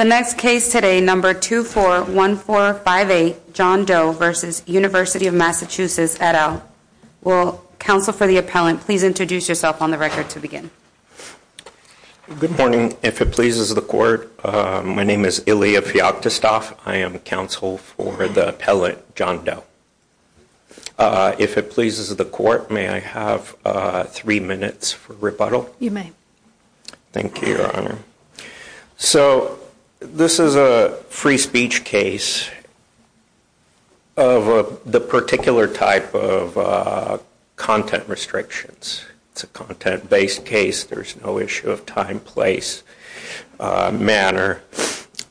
The next case today, number 241458, John Doe v. University of Massachusetts et al. Will counsel for the appellant please introduce yourself on the record to begin. Good morning. If it pleases the court, my name is Ilya Fyoktostov. I am counsel for the appellant, John Doe. If it pleases the court, may I have three minutes for rebuttal? You may. Thank you, Your Honor. So, this is a free speech case of the particular type of content restrictions. It's a content-based case. There's no issue of time, place, manner.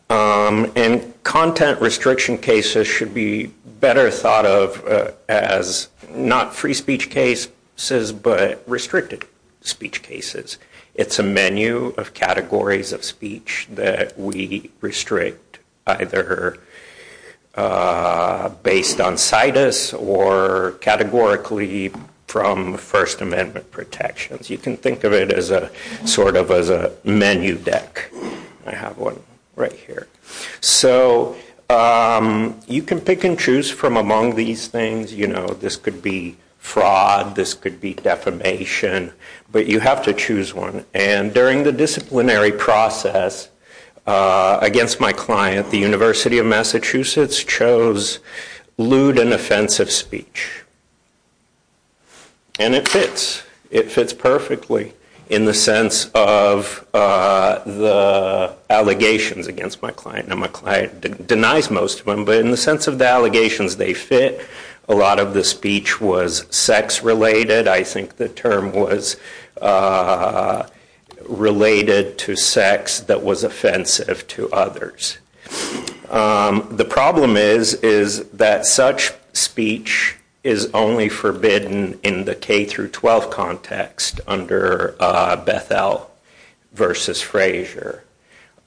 And content restriction cases should be better thought of as not free speech cases, but restricted speech cases. It's a menu of categories of speech that we restrict either based on situs or categorically from First Amendment protections. You can think of it as a sort of as a menu deck. I have one right here. So, you can pick and choose from among these things. You know, this could be fraud, this could be defamation. But you have to choose one. And during the disciplinary process against my client, the University of Massachusetts chose lewd and offensive speech. And it fits. It fits perfectly in the sense of the allegations against my client. Now, my client denies most of them, but in the sense of the allegations, they fit. A lot of the speech was sex-related. I think the term was related to sex that was offensive to others. The problem is, is that such speech is only forbidden in the K through 12 context under Beth-El versus Frazier.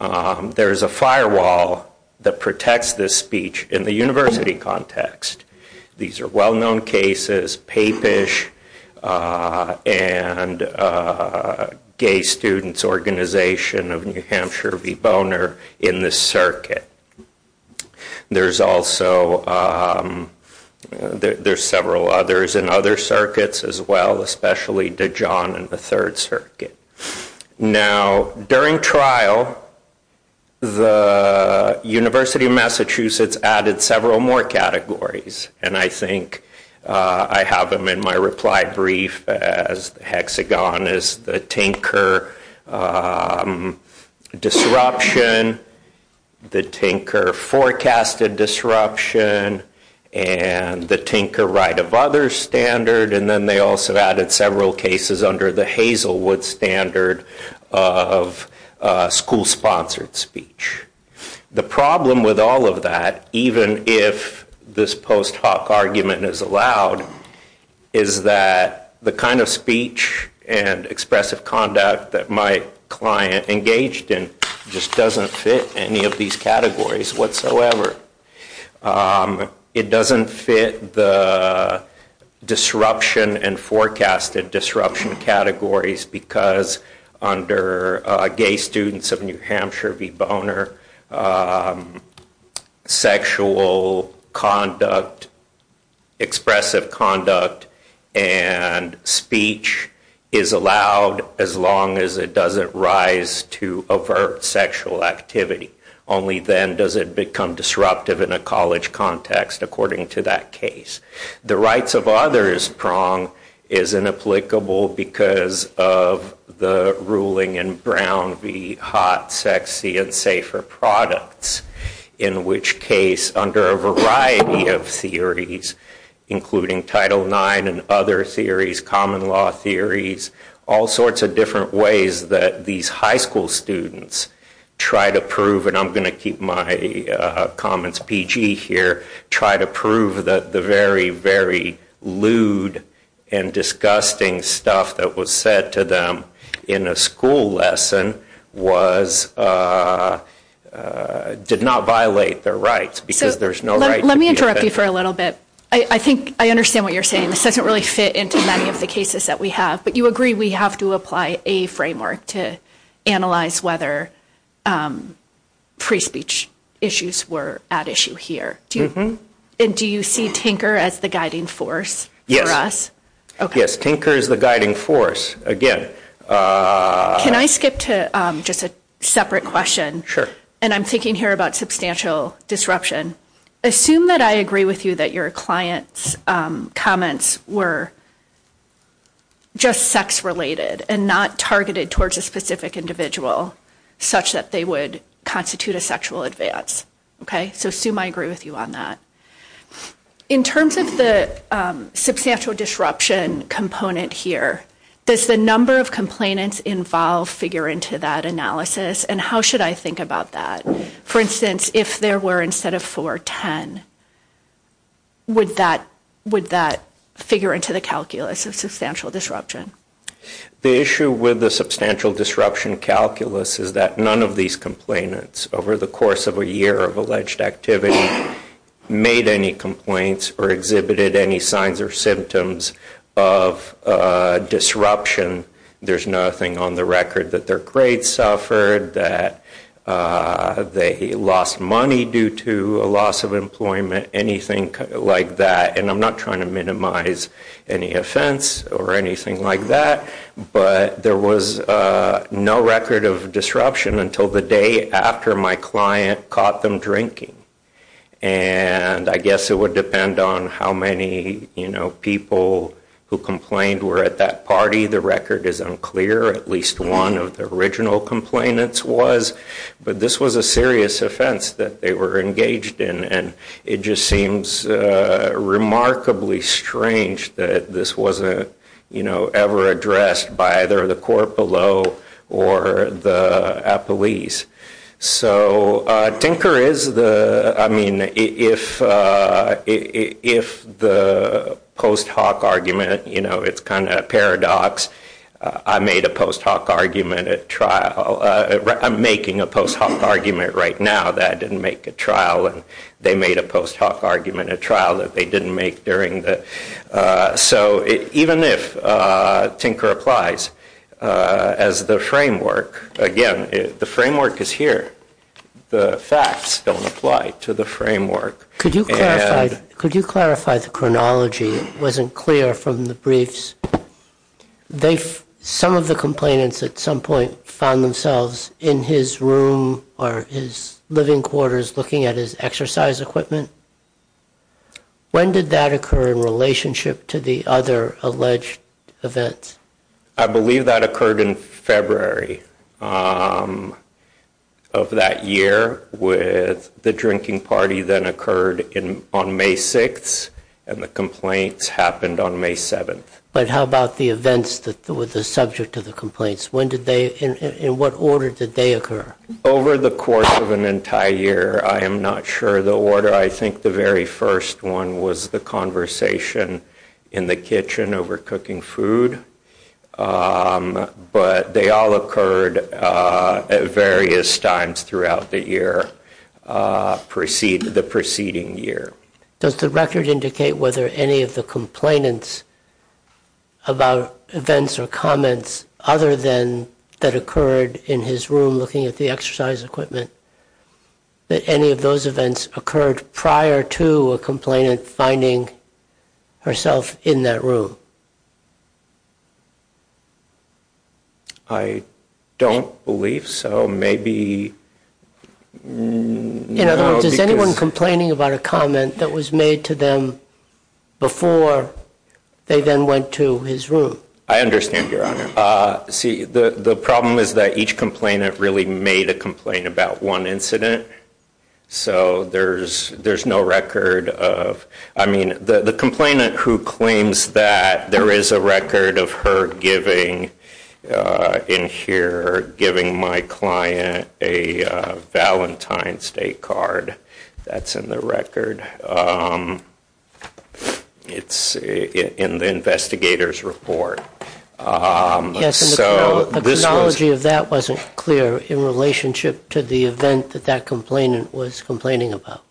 There is a firewall that protects this speech in the university context. These are well-known cases, Papish and Gay Students Organization of New Hampshire v. Boner in this circuit. There's also several others in other circuits as well, especially Dijon and the Third Circuit. Now, during trial, the University of Massachusetts added several more categories. And I think I have them in my reply brief as hexagon is the Tinker disruption, the Tinker forecasted disruption, and the Tinker right of others standard. And then they also added several cases under the Hazelwood standard of school-sponsored speech. The problem with all of that, even if this post-hoc argument is allowed, is that the kind of speech and expressive conduct that my client engaged in just doesn't fit any of these categories whatsoever. It doesn't fit the disruption and forecasted disruption categories because under gay students of New Hampshire v. Boner, sexual conduct, expressive conduct, and speech is allowed as long as it doesn't rise to avert sexual activity. Only then does it become disruptive in a college context, according to that case. The rights of others prong is inapplicable because of the ruling in Brown v. Hot, Sexy, and Safer Products, in which case, under a variety of theories, including Title IX and other theories, common law theories, all sorts of different ways that these high school students try to prove. And I'm going to keep my comments PG here, try to prove that the very, very lewd and disgusting stuff that was said to them in a school lesson did not violate their rights because there's no right to be offended. Let me interrupt you for a little bit. I think I understand what you're saying. This doesn't really fit into many of the cases that we have, but you agree we have to apply a framework to analyze whether free speech issues were at issue here. And do you see tinker as the guiding force for us? Yes. Yes, tinker is the guiding force. Again... Can I skip to just a separate question? And I'm thinking here about substantial disruption. Assume that I agree with you that your client's comments were just sex-related and not targeted towards a specific individual, such that they would constitute a sexual advance. Okay? So assume I agree with you on that. In terms of the substantial disruption component here, does the number of complainants involved figure into that analysis? And how should I think about that? For instance, if there were, instead of 4, 10, would that figure into the calculus of substantial disruption? The issue with the substantial disruption calculus is that none of these complainants, over the course of a year of alleged activity, made any complaints or exhibited any signs or symptoms of disruption. There's nothing on the record that their grades suffered, that they lost money due to a loss of employment, anything like that. And I'm not trying to minimize any offense or anything like that, but there was no record of disruption until the day after my client caught them drinking. And I guess it would depend on how many people who complained were at that party. The record is unclear. At least one of the original complainants was. But this was a serious offense that they were engaged in. And it just seems remarkably strange that this wasn't ever addressed by either the court below or the police. So Tinker is the, I mean, if the post hoc argument, it's kind of a paradox. I made a post hoc argument at trial. I'm making a post hoc argument right now that I didn't make a trial. And they made a post hoc argument at trial that they didn't make during that. So even if Tinker applies as the framework, again, the framework is here. The facts don't apply to the framework. Could you clarify the chronology? It wasn't clear from the briefs. Some of the complainants at some point found themselves in his room or his living quarters looking at his exercise equipment. When did that occur in relationship to the other alleged events? I believe that occurred in February of that year with the drinking party that occurred on May 6th. And the complaints happened on May 7th. But how about the events that were the subject of the complaints? When did they, in what order did they occur? Over the course of an entire year, I am not sure the order. I think the very first one was the conversation in the kitchen over cooking food. But they all occurred at various times throughout the year, the preceding year. Does the record indicate whether any of the complainants about events or comments other than that occurred in his room looking at the exercise equipment, that any of those events occurred prior to a complainant finding herself in that room? I don't believe so. Maybe, you know, because. In other words, is anyone complaining about a comment that was made to them before they then went to his room? I understand, Your Honor. See, the problem is that each complainant really made a complaint about one incident. So, there's no record of, I mean, the complainant who claims that there is a record of her giving, in here, giving my client a Valentine's Day card, that's in the record. It's in the investigator's report. Yes, and the chronology of that wasn't clear in relationship to the event that that complainant was complaining about.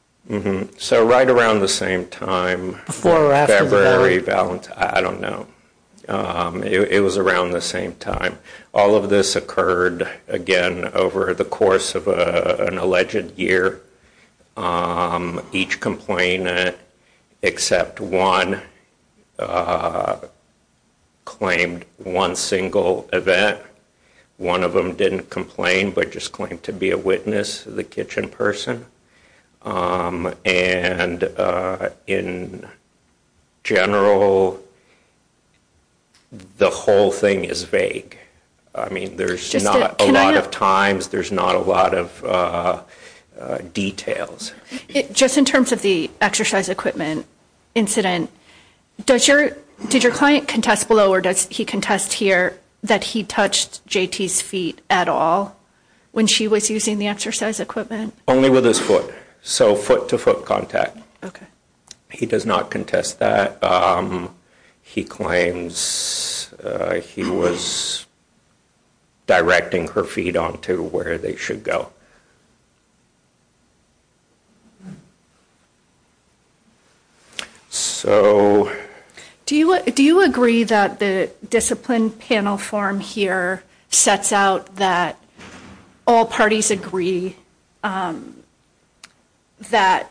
So, right around the same time, February, Valentine's, I don't know. It was around the same time. All of this occurred, again, over the course of an alleged year. Each complainant, except one, claimed one single event. One of them didn't complain, but just claimed to be a witness, the kitchen person. And, in general, the whole thing is vague. I mean, there's not a lot of times. There's not a lot of details. Just in terms of the exercise equipment incident, did your client contest below, or does he contest here, that he touched JT's feet at all when she was using the exercise equipment? Only with his foot. So, foot-to-foot contact. Okay. He does not contest that. He claims he was directing her feet onto where they should go. So. Do you agree that the discipline panel form here sets out that all parties agree that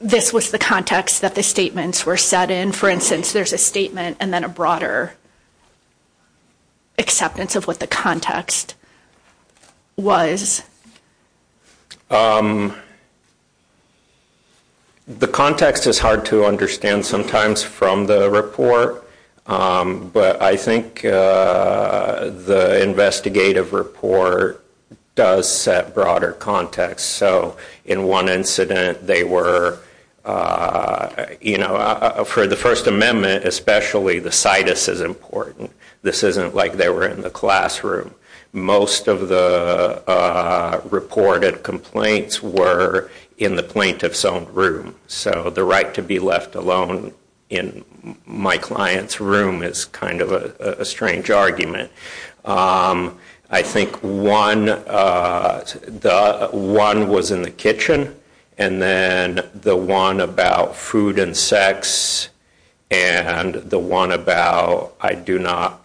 this was the context that the statements were set in? For instance, there's a statement and then a broader acceptance of what the context was. The context is hard to understand sometimes from the report. But I think the investigative report does set broader context. So, in one incident, they were, you know, for the First Amendment, especially the situs is important. This isn't like they were in the classroom. Most of the reported complaints were in the plaintiff's own room. So, the right to be left alone in my client's room is kind of a strange argument. I think one was in the kitchen and then the one about food and sex and the one about I do not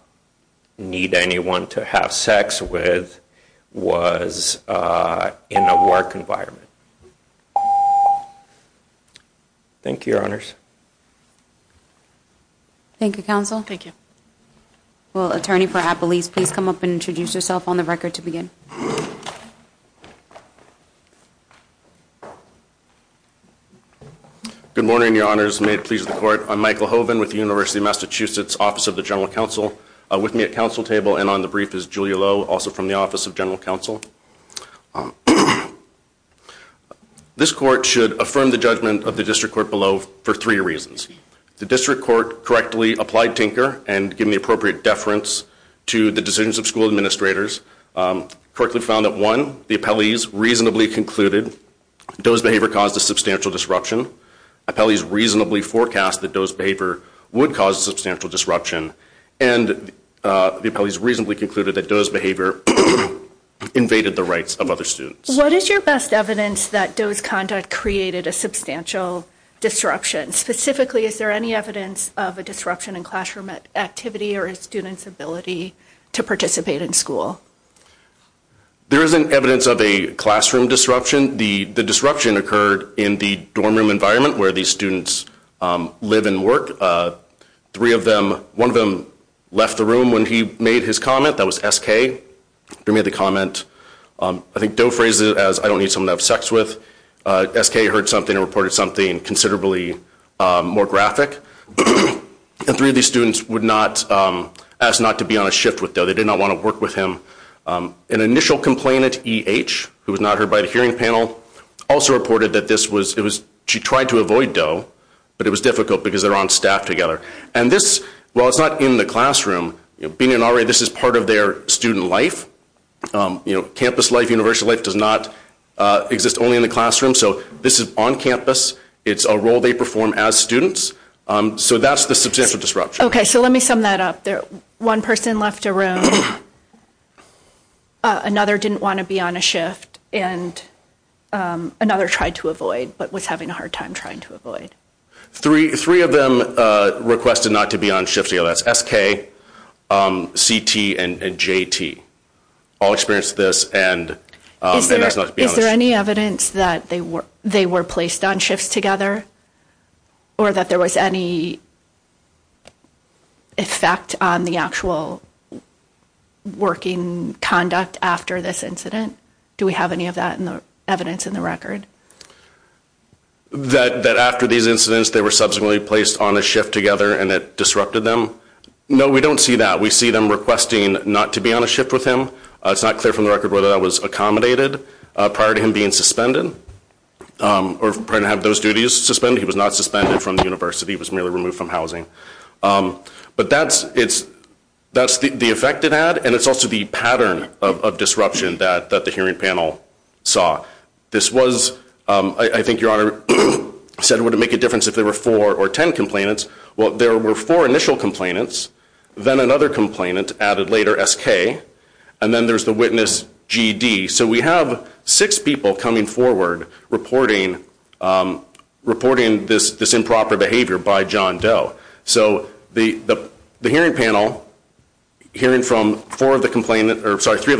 need anyone to have sex with was in a work environment. Thank you, Your Honors. Thank you, Counsel. Thank you. Well, Attorney for Appelese, please come up and introduce yourself on the record to begin. Good morning, Your Honors. May it please the court. I'm Michael Hoven with the University of Massachusetts Office of the General Counsel. With me at counsel table and on the brief is Julia Lowe, also from the Office of General Counsel. This court should affirm the judgment of the district court below for three reasons. The district court correctly applied tinker and given the appropriate deference to the decisions of school administrators. Correctly found that one, the Appelese reasonably concluded Doe's behavior caused a substantial disruption. Appelese reasonably forecast that Doe's behavior would cause substantial disruption. And the Appelese reasonably concluded that Doe's behavior invaded the rights of other students. What is your best evidence that Doe's conduct created a substantial disruption? Specifically, is there any evidence of a disruption in classroom activity or a student's ability to participate in school? There isn't evidence of a classroom disruption. The disruption occurred in the dorm room environment where these students live and work. Three of them, one of them left the room when he made his comment. That was SK. He made the comment, I think Doe phrased it as, I don't need someone to have sex with. SK heard something and reported something considerably more graphic. And three of these students would not, asked not to be on a shift with Doe. They did not want to work with him. An initial complainant, EH, who was not heard by the hearing panel, also reported that this was, it was, she tried to avoid Doe, but it was difficult because they're on staff together. And this, while it's not in the classroom, being an RA, this is part of their student life. You know, campus life, universal life does not exist only in the classroom. So this is on campus. It's a role they perform as students. So that's the substantial disruption. Okay, so let me sum that up there. One person left a room. Another didn't want to be on a shift. And another tried to avoid, but was having a hard time trying to avoid. Three of them requested not to be on shifts. That's SK, CT, and JT. All experienced this. Is there any evidence that they were placed on shifts together? Or that there was any effect on the actual working conduct after this incident? Do we have any of that in the evidence in the record? That after these incidents, they were subsequently placed on a shift together and it disrupted them? No, we don't see that. We see them requesting not to be on a shift with him. It's not clear from the record whether that was accommodated prior to him being suspended. Or prior to having those duties suspended. He was not suspended from the university. He was merely removed from housing. But that's the effect it had. And it's also the pattern of disruption that the hearing panel saw. This was, I think your honor said it wouldn't make a difference if there were four or ten complainants. There were four initial complainants. Then another complainant added later SK. And then there's the witness GD. So we have six people coming forward reporting this improper behavior by John Doe. So the hearing panel, hearing from three of the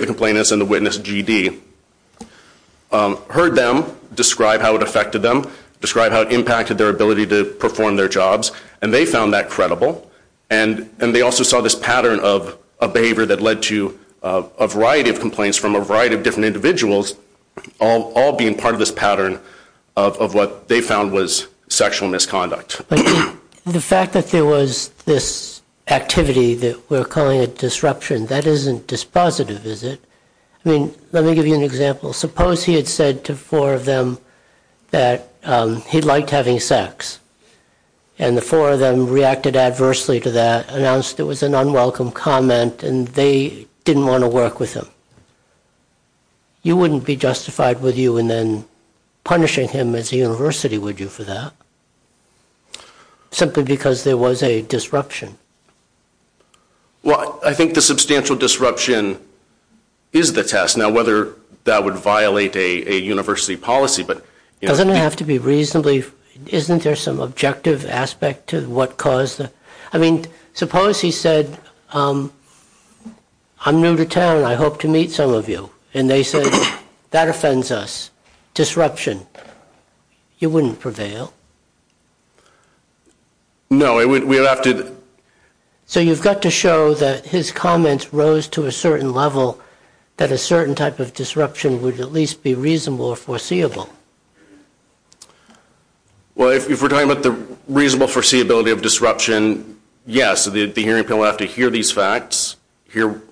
complainants and the witness GD, heard them describe how it affected them. Describe how it impacted their ability to perform their jobs. They found that credible. And they also saw this pattern of behavior that led to a variety of complaints from a variety of different individuals, all being part of this pattern of what they found was sexual misconduct. The fact that there was this activity that we're calling a disruption, that isn't dispositive, is it? Let me give you an example. Suppose he had said to four of them that he liked having sex. And the four of them reacted adversely to that, announced it was an unwelcome comment and they didn't want to work with him. You wouldn't be justified with you and then punishing him as a university, would you, for that? Simply because there was a disruption. Well, I think the substantial disruption is the test. Now whether that would violate a university policy. Doesn't it have to be reasonably, isn't there some objective aspect to what caused it? I mean, suppose he said, I'm new to town. I hope to meet some of you. And they said, that offends us. You wouldn't prevail. No, we would have to. So you've got to show that his comments rose to a certain level, that a certain type of disruption would at least be reasonable or foreseeable. Well, if we're talking about the reasonable foreseeability of disruption, yes, the hearing panel would have to hear these facts, hear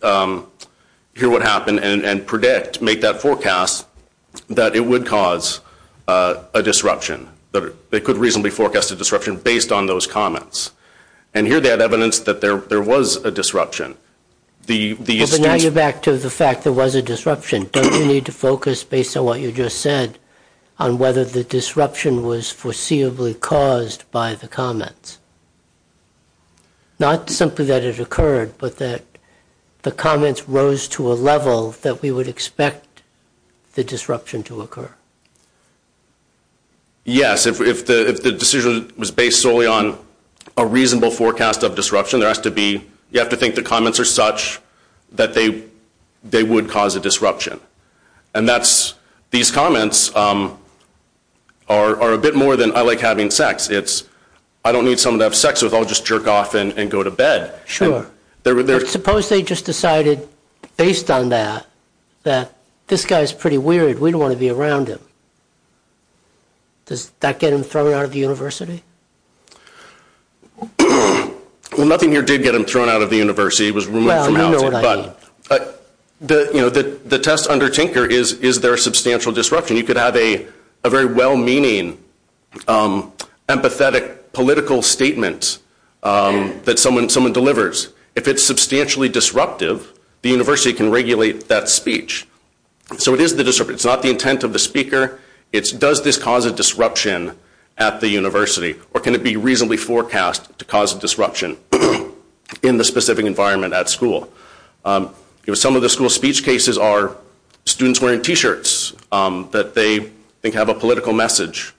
what happened and predict, make that forecast that it would cause a disruption, that it could reasonably forecast a disruption based on those comments. And here they had evidence that there was a disruption. Well, but now you're back to the fact there was a disruption. Don't you need to focus, based on what you just said, on whether the disruption was foreseeably caused by the comments? Not simply that it occurred, but that the comments rose to a level that we would expect the disruption to occur. Yes, if the decision was based solely on a reasonable forecast of disruption, there has to be, you have to think the comments are such that they would cause a disruption. And that's, these comments are a bit more than, I like having sex. It's, I don't need someone to have sex with, I'll just jerk off and go to bed. Sure, but suppose they just decided, based on that, that this guy's pretty weird, we don't want to be around him. Does that get him thrown out of the university? Well, nothing here did get him thrown out of the university, it was removed from housing. But the test under Tinker is, is there a substantial disruption? You could have a very well-meaning, empathetic, political statement that someone delivers. If it's substantially disruptive, the university can regulate that speech. So it is the disruption. It's not the intent of the speaker, it's does this cause a disruption at the university, or can it be reasonably forecast to cause a disruption in the specific environment at the school? You know, some of the school speech cases are students wearing t-shirts that they think have a political message.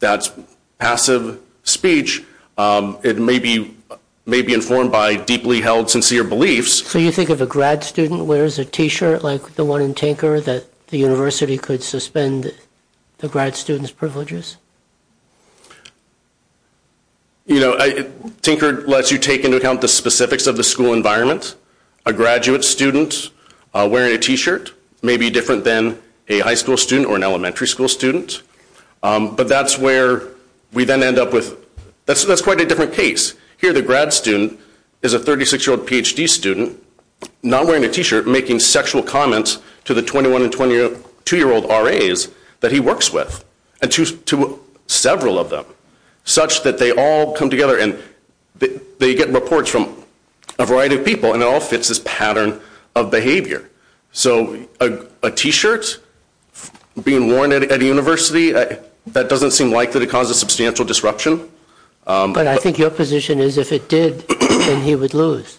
That's passive speech. It may be, may be informed by deeply held sincere beliefs. So you think if a grad student wears a t-shirt like the one in Tinker that the university could suspend the grad student's privileges? You know, Tinker lets you take into account the specifics of the school environment. A graduate student wearing a t-shirt may be different than a high school student or an elementary school student. But that's where we then end up with, that's quite a different case. Here the grad student is a 36-year-old PhD student, not wearing a t-shirt, making sexual comments to the 21 and 22-year-old RAs that he works with. And to several of them, such that they all come together and they get reports from a variety of people, and it all fits this pattern of behavior. So a t-shirt being worn at a university, that doesn't seem likely to cause a substantial disruption. But I think your position is if it did, then he would lose.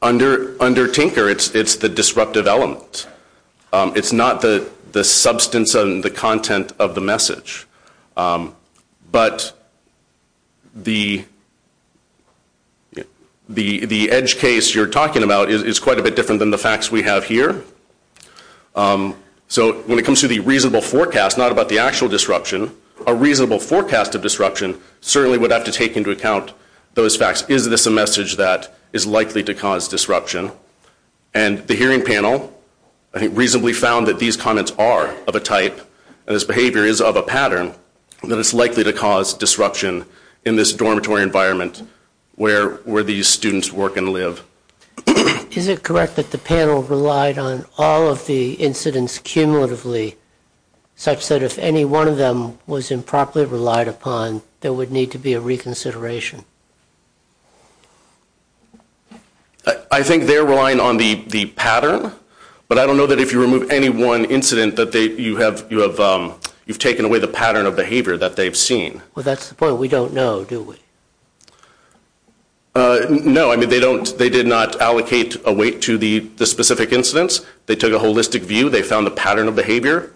Under Tinker, it's the disruptive element. It's not the substance and the content of the message. But the edge case you're talking about is quite a bit different than the facts we have here. So when it comes to the reasonable forecast, not about the actual disruption, a reasonable forecast of disruption certainly would have to take into account those facts. Is this a message that is likely to cause disruption? And the hearing panel, I think, reasonably found that these comments are of a type, and this behavior is of a pattern, that it's likely to cause disruption in this dormitory environment where these students work and live. Is it correct that the panel relied on all of the incidents cumulatively, such that if any one of them was improperly relied upon, there would need to be a reconsideration? I think they're relying on the pattern, but I don't know that if you remove any one incident, that you have taken away the pattern of behavior that they've seen. Well, that's the point. We don't know, do we? No. I mean, they did not allocate a weight to the specific incidents. They took a holistic view. They found the pattern of behavior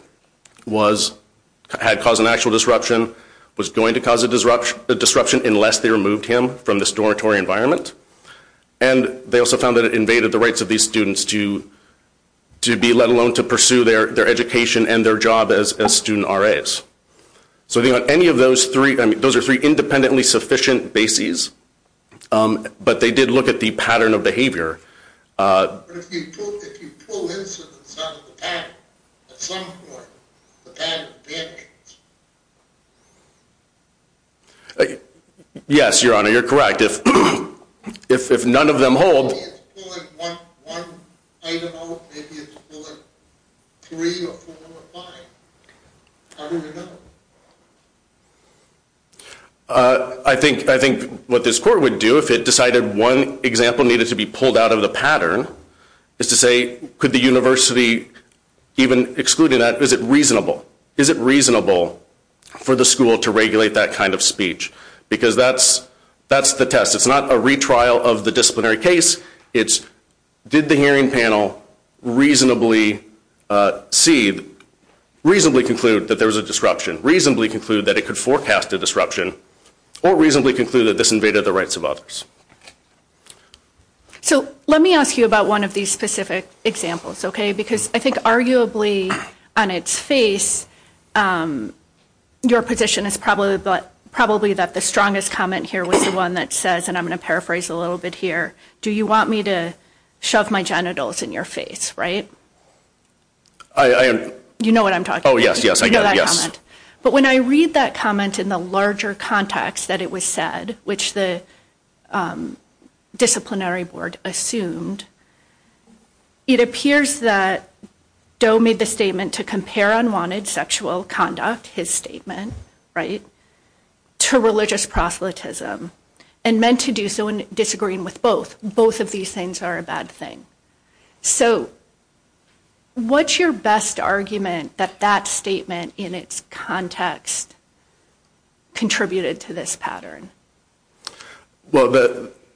had caused an actual disruption, was going to cause a disruption unless they removed all of the incidents. They removed him from this dormitory environment, and they also found that it invaded the rights of these students to be, let alone to pursue their education and their job as student RAs. So I think on any of those three, I mean, those are three independently sufficient bases, but they did look at the pattern of behavior. But if you pull incidents out of the pattern, at some point, the pattern of behavior changes. Yes, Your Honor, you're correct. If none of them hold- Maybe it's pulling one item out, maybe it's pulling three or four or five. How do we know? I think what this court would do if it decided one example needed to be pulled out of the pattern is to say, could the university even exclude that? Is it reasonable? For the school to regulate that kind of speech? Because that's the test. It's not a retrial of the disciplinary case. It's, did the hearing panel reasonably conclude that there was a disruption, reasonably conclude that it could forecast a disruption, or reasonably conclude that this invaded the rights of others? So let me ask you about one of these specific examples, okay? I think arguably, on its face, your position is probably that the strongest comment here was the one that says, and I'm going to paraphrase a little bit here, do you want me to shove my genitals in your face, right? You know what I'm talking about. Oh, yes, yes, I get it, yes. But when I read that comment in the larger context that it was said, which the disciplinary board assumed, it appears that Doe made the statement to compare unwanted sexual conduct, his statement, right, to religious proselytism, and meant to do so in disagreeing with both. Both of these things are a bad thing. So what's your best argument that that statement in its context contributed to this pattern? Well,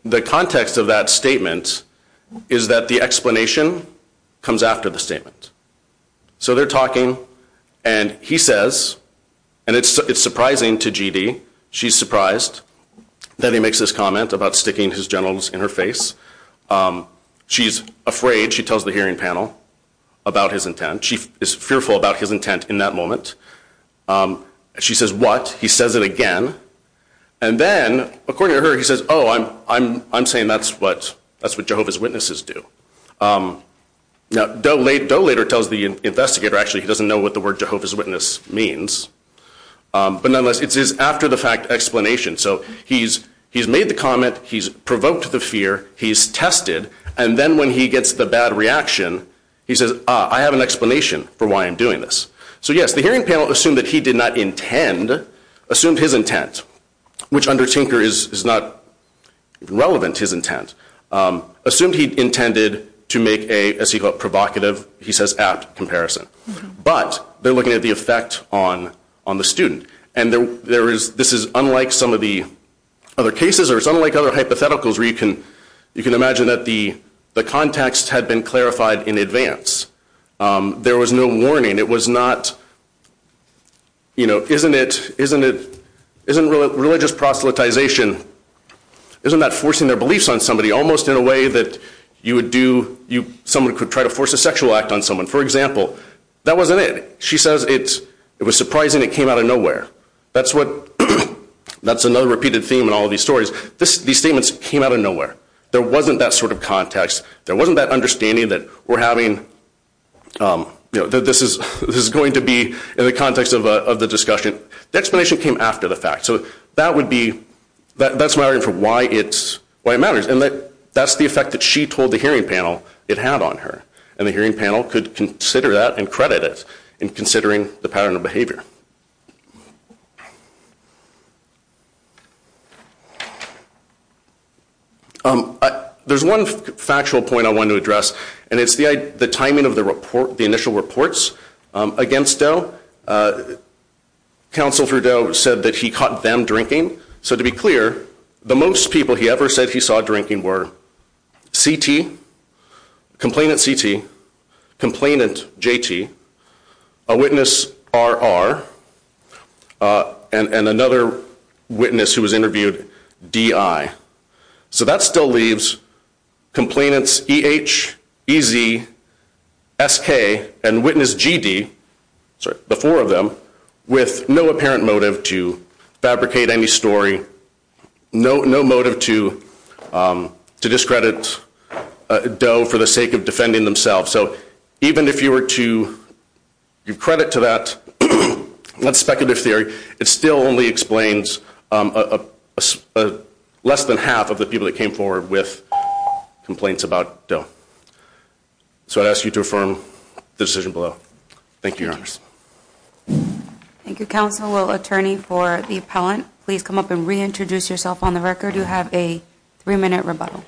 the context of that statement is that the explanation comes after the statement. So they're talking, and he says, and it's surprising to G.D., she's surprised that he makes this comment about sticking his genitals in her face. She's afraid, she tells the hearing panel about his intent. She is fearful about his intent in that moment. She says, what? He says it again. And then, according to her, he says, oh, I'm saying that's what Jehovah's Witnesses do. Now, Doe later tells the investigator, actually, he doesn't know what the word Jehovah's Witness means. But nonetheless, it's his after-the-fact explanation. So he's made the comment, he's provoked the fear, he's tested. And then when he gets the bad reaction, he says, ah, I have an explanation for why I'm doing this. So yes, the hearing panel assumed that he did not intend, assumed his intent, which under Tinker is not relevant, his intent. Assumed he intended to make a, as he called it, provocative, he says, apt comparison. But they're looking at the effect on the student. And this is unlike some of the other cases, or it's unlike other hypotheticals, where you can imagine that the context had been clarified in advance. There was no warning. It was not, isn't religious proselytization, isn't that forcing their beliefs on somebody almost in a way that you would do, someone could try to force a sexual act on someone. For example, that wasn't it. She says, it was surprising it came out of nowhere. That's what, that's another repeated theme in all of these stories. These statements came out of nowhere. There wasn't that sort of context. There wasn't that understanding that we're having, you know, that this is going to be in the context of the discussion. The explanation came after the fact. So that would be, that's my argument for why it matters. And that's the effect that she told the hearing panel it had on her. And the hearing panel could consider that and credit it in considering the pattern of There's one factual point I want to address, and it's the timing of the report, the initial reports against Doe. Counsel for Doe said that he caught them drinking. So to be clear, the most people he ever said he saw drinking were CT, complainant CT, complainant JT, a witness RR, and another witness who was interviewed DI. So that still leaves complainants EH, EZ, SK, and witness GD, sorry, the four of them, with no apparent motive to fabricate any story, no motive to discredit Doe for the So even if you were to give credit to that speculative theory, it still only explains less than half of the people that came forward with complaints about Doe. So I'd ask you to affirm the decision below. Thank you, your honors. Thank you, counsel. Will attorney for the appellant please come up and reintroduce yourself on the record. You have a three-minute rebuttal.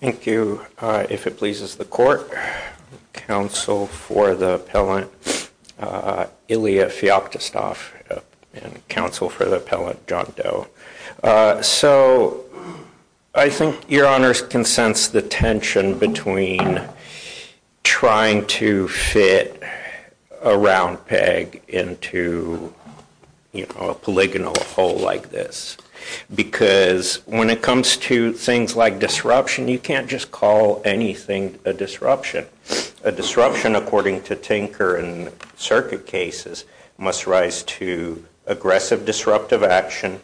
Thank you. If it pleases the court, counsel for the appellant, Ilya Feoptistov, and counsel for the appellant, John Doe. So I think your honors can sense the tension between trying to fit a round peg into a polygonal hole like this. Because when it comes to things like disruption, you can't just call anything a disruption. A disruption, according to Tinker and circuit cases, must rise to aggressive disruptive action,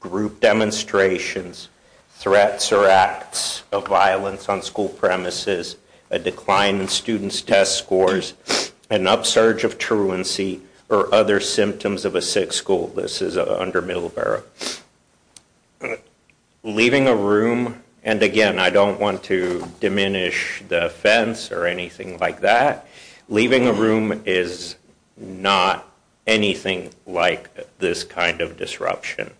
group demonstrations, threats or acts of violence on school premises, a decline in students' test scores, an upsurge of truancy, or other symptoms of a sick school. This is under Middleborough. Leaving a room, and again, I don't want to diminish the offense or anything like that. Leaving a room is not anything like this kind of disruption.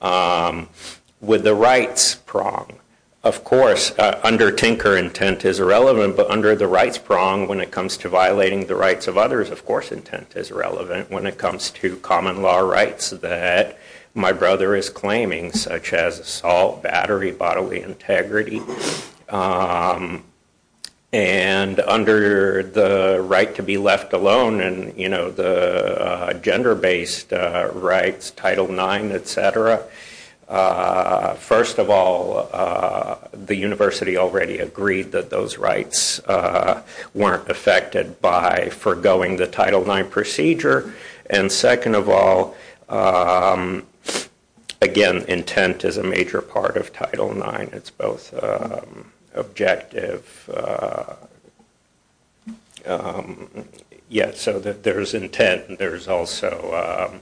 With the rights prong, of course, under Tinker, intent is irrelevant. But under the rights prong, when it comes to violating the rights of others, of course, intent is relevant. When it comes to common law rights that my brother is claiming, such as assault, battery, bodily integrity. And under the right to be left alone, and the gender-based rights, Title IX, et cetera, first of all, the university already agreed that those rights weren't affected by forgoing the Title IX procedure. And second of all, again, intent is a major part of Title IX. It's both objective, yeah, so that there is intent, and there is also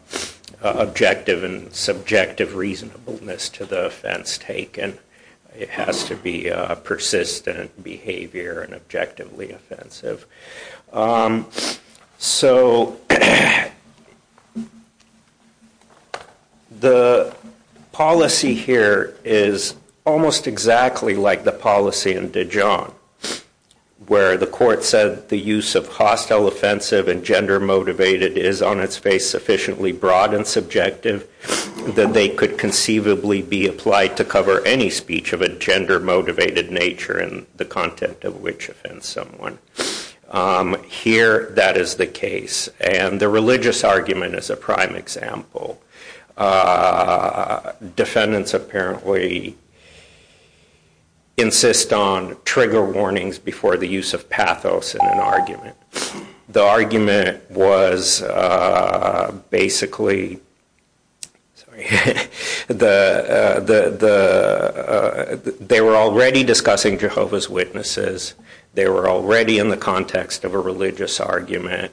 objective and subjective reasonableness to the offense taken. It has to be persistent behavior and objectively offensive. So the policy here is almost exactly like the policy in Dijon, where the court said that the use of hostile, offensive, and gender-motivated is, on its face, sufficiently broad and subjective that they could conceivably be applied to cover any speech of a gender-motivated nature and the content of which offends someone. Here, that is the case. And the religious argument is a prime example. Defendants apparently insist on trigger warnings before the use of pathos in an argument. The argument was basically, sorry, they were already discussing Jehovah's Witnesses. They were already in the context of a religious argument.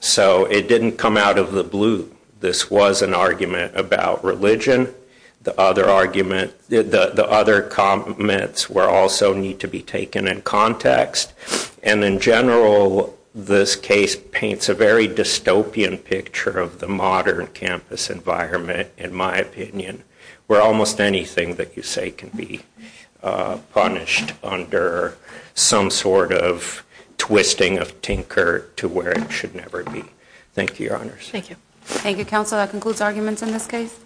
So it didn't come out of the blue this was an argument about religion. The other argument, the other comments were also need to be taken in context. And in general, this case paints a very dystopian picture of the modern campus environment, in my opinion, where almost anything that you say can be punished under some sort of twisting of tinker to where it should never be. Thank you, your honors. Thank you. Thank you, counsel. That concludes arguments in this case.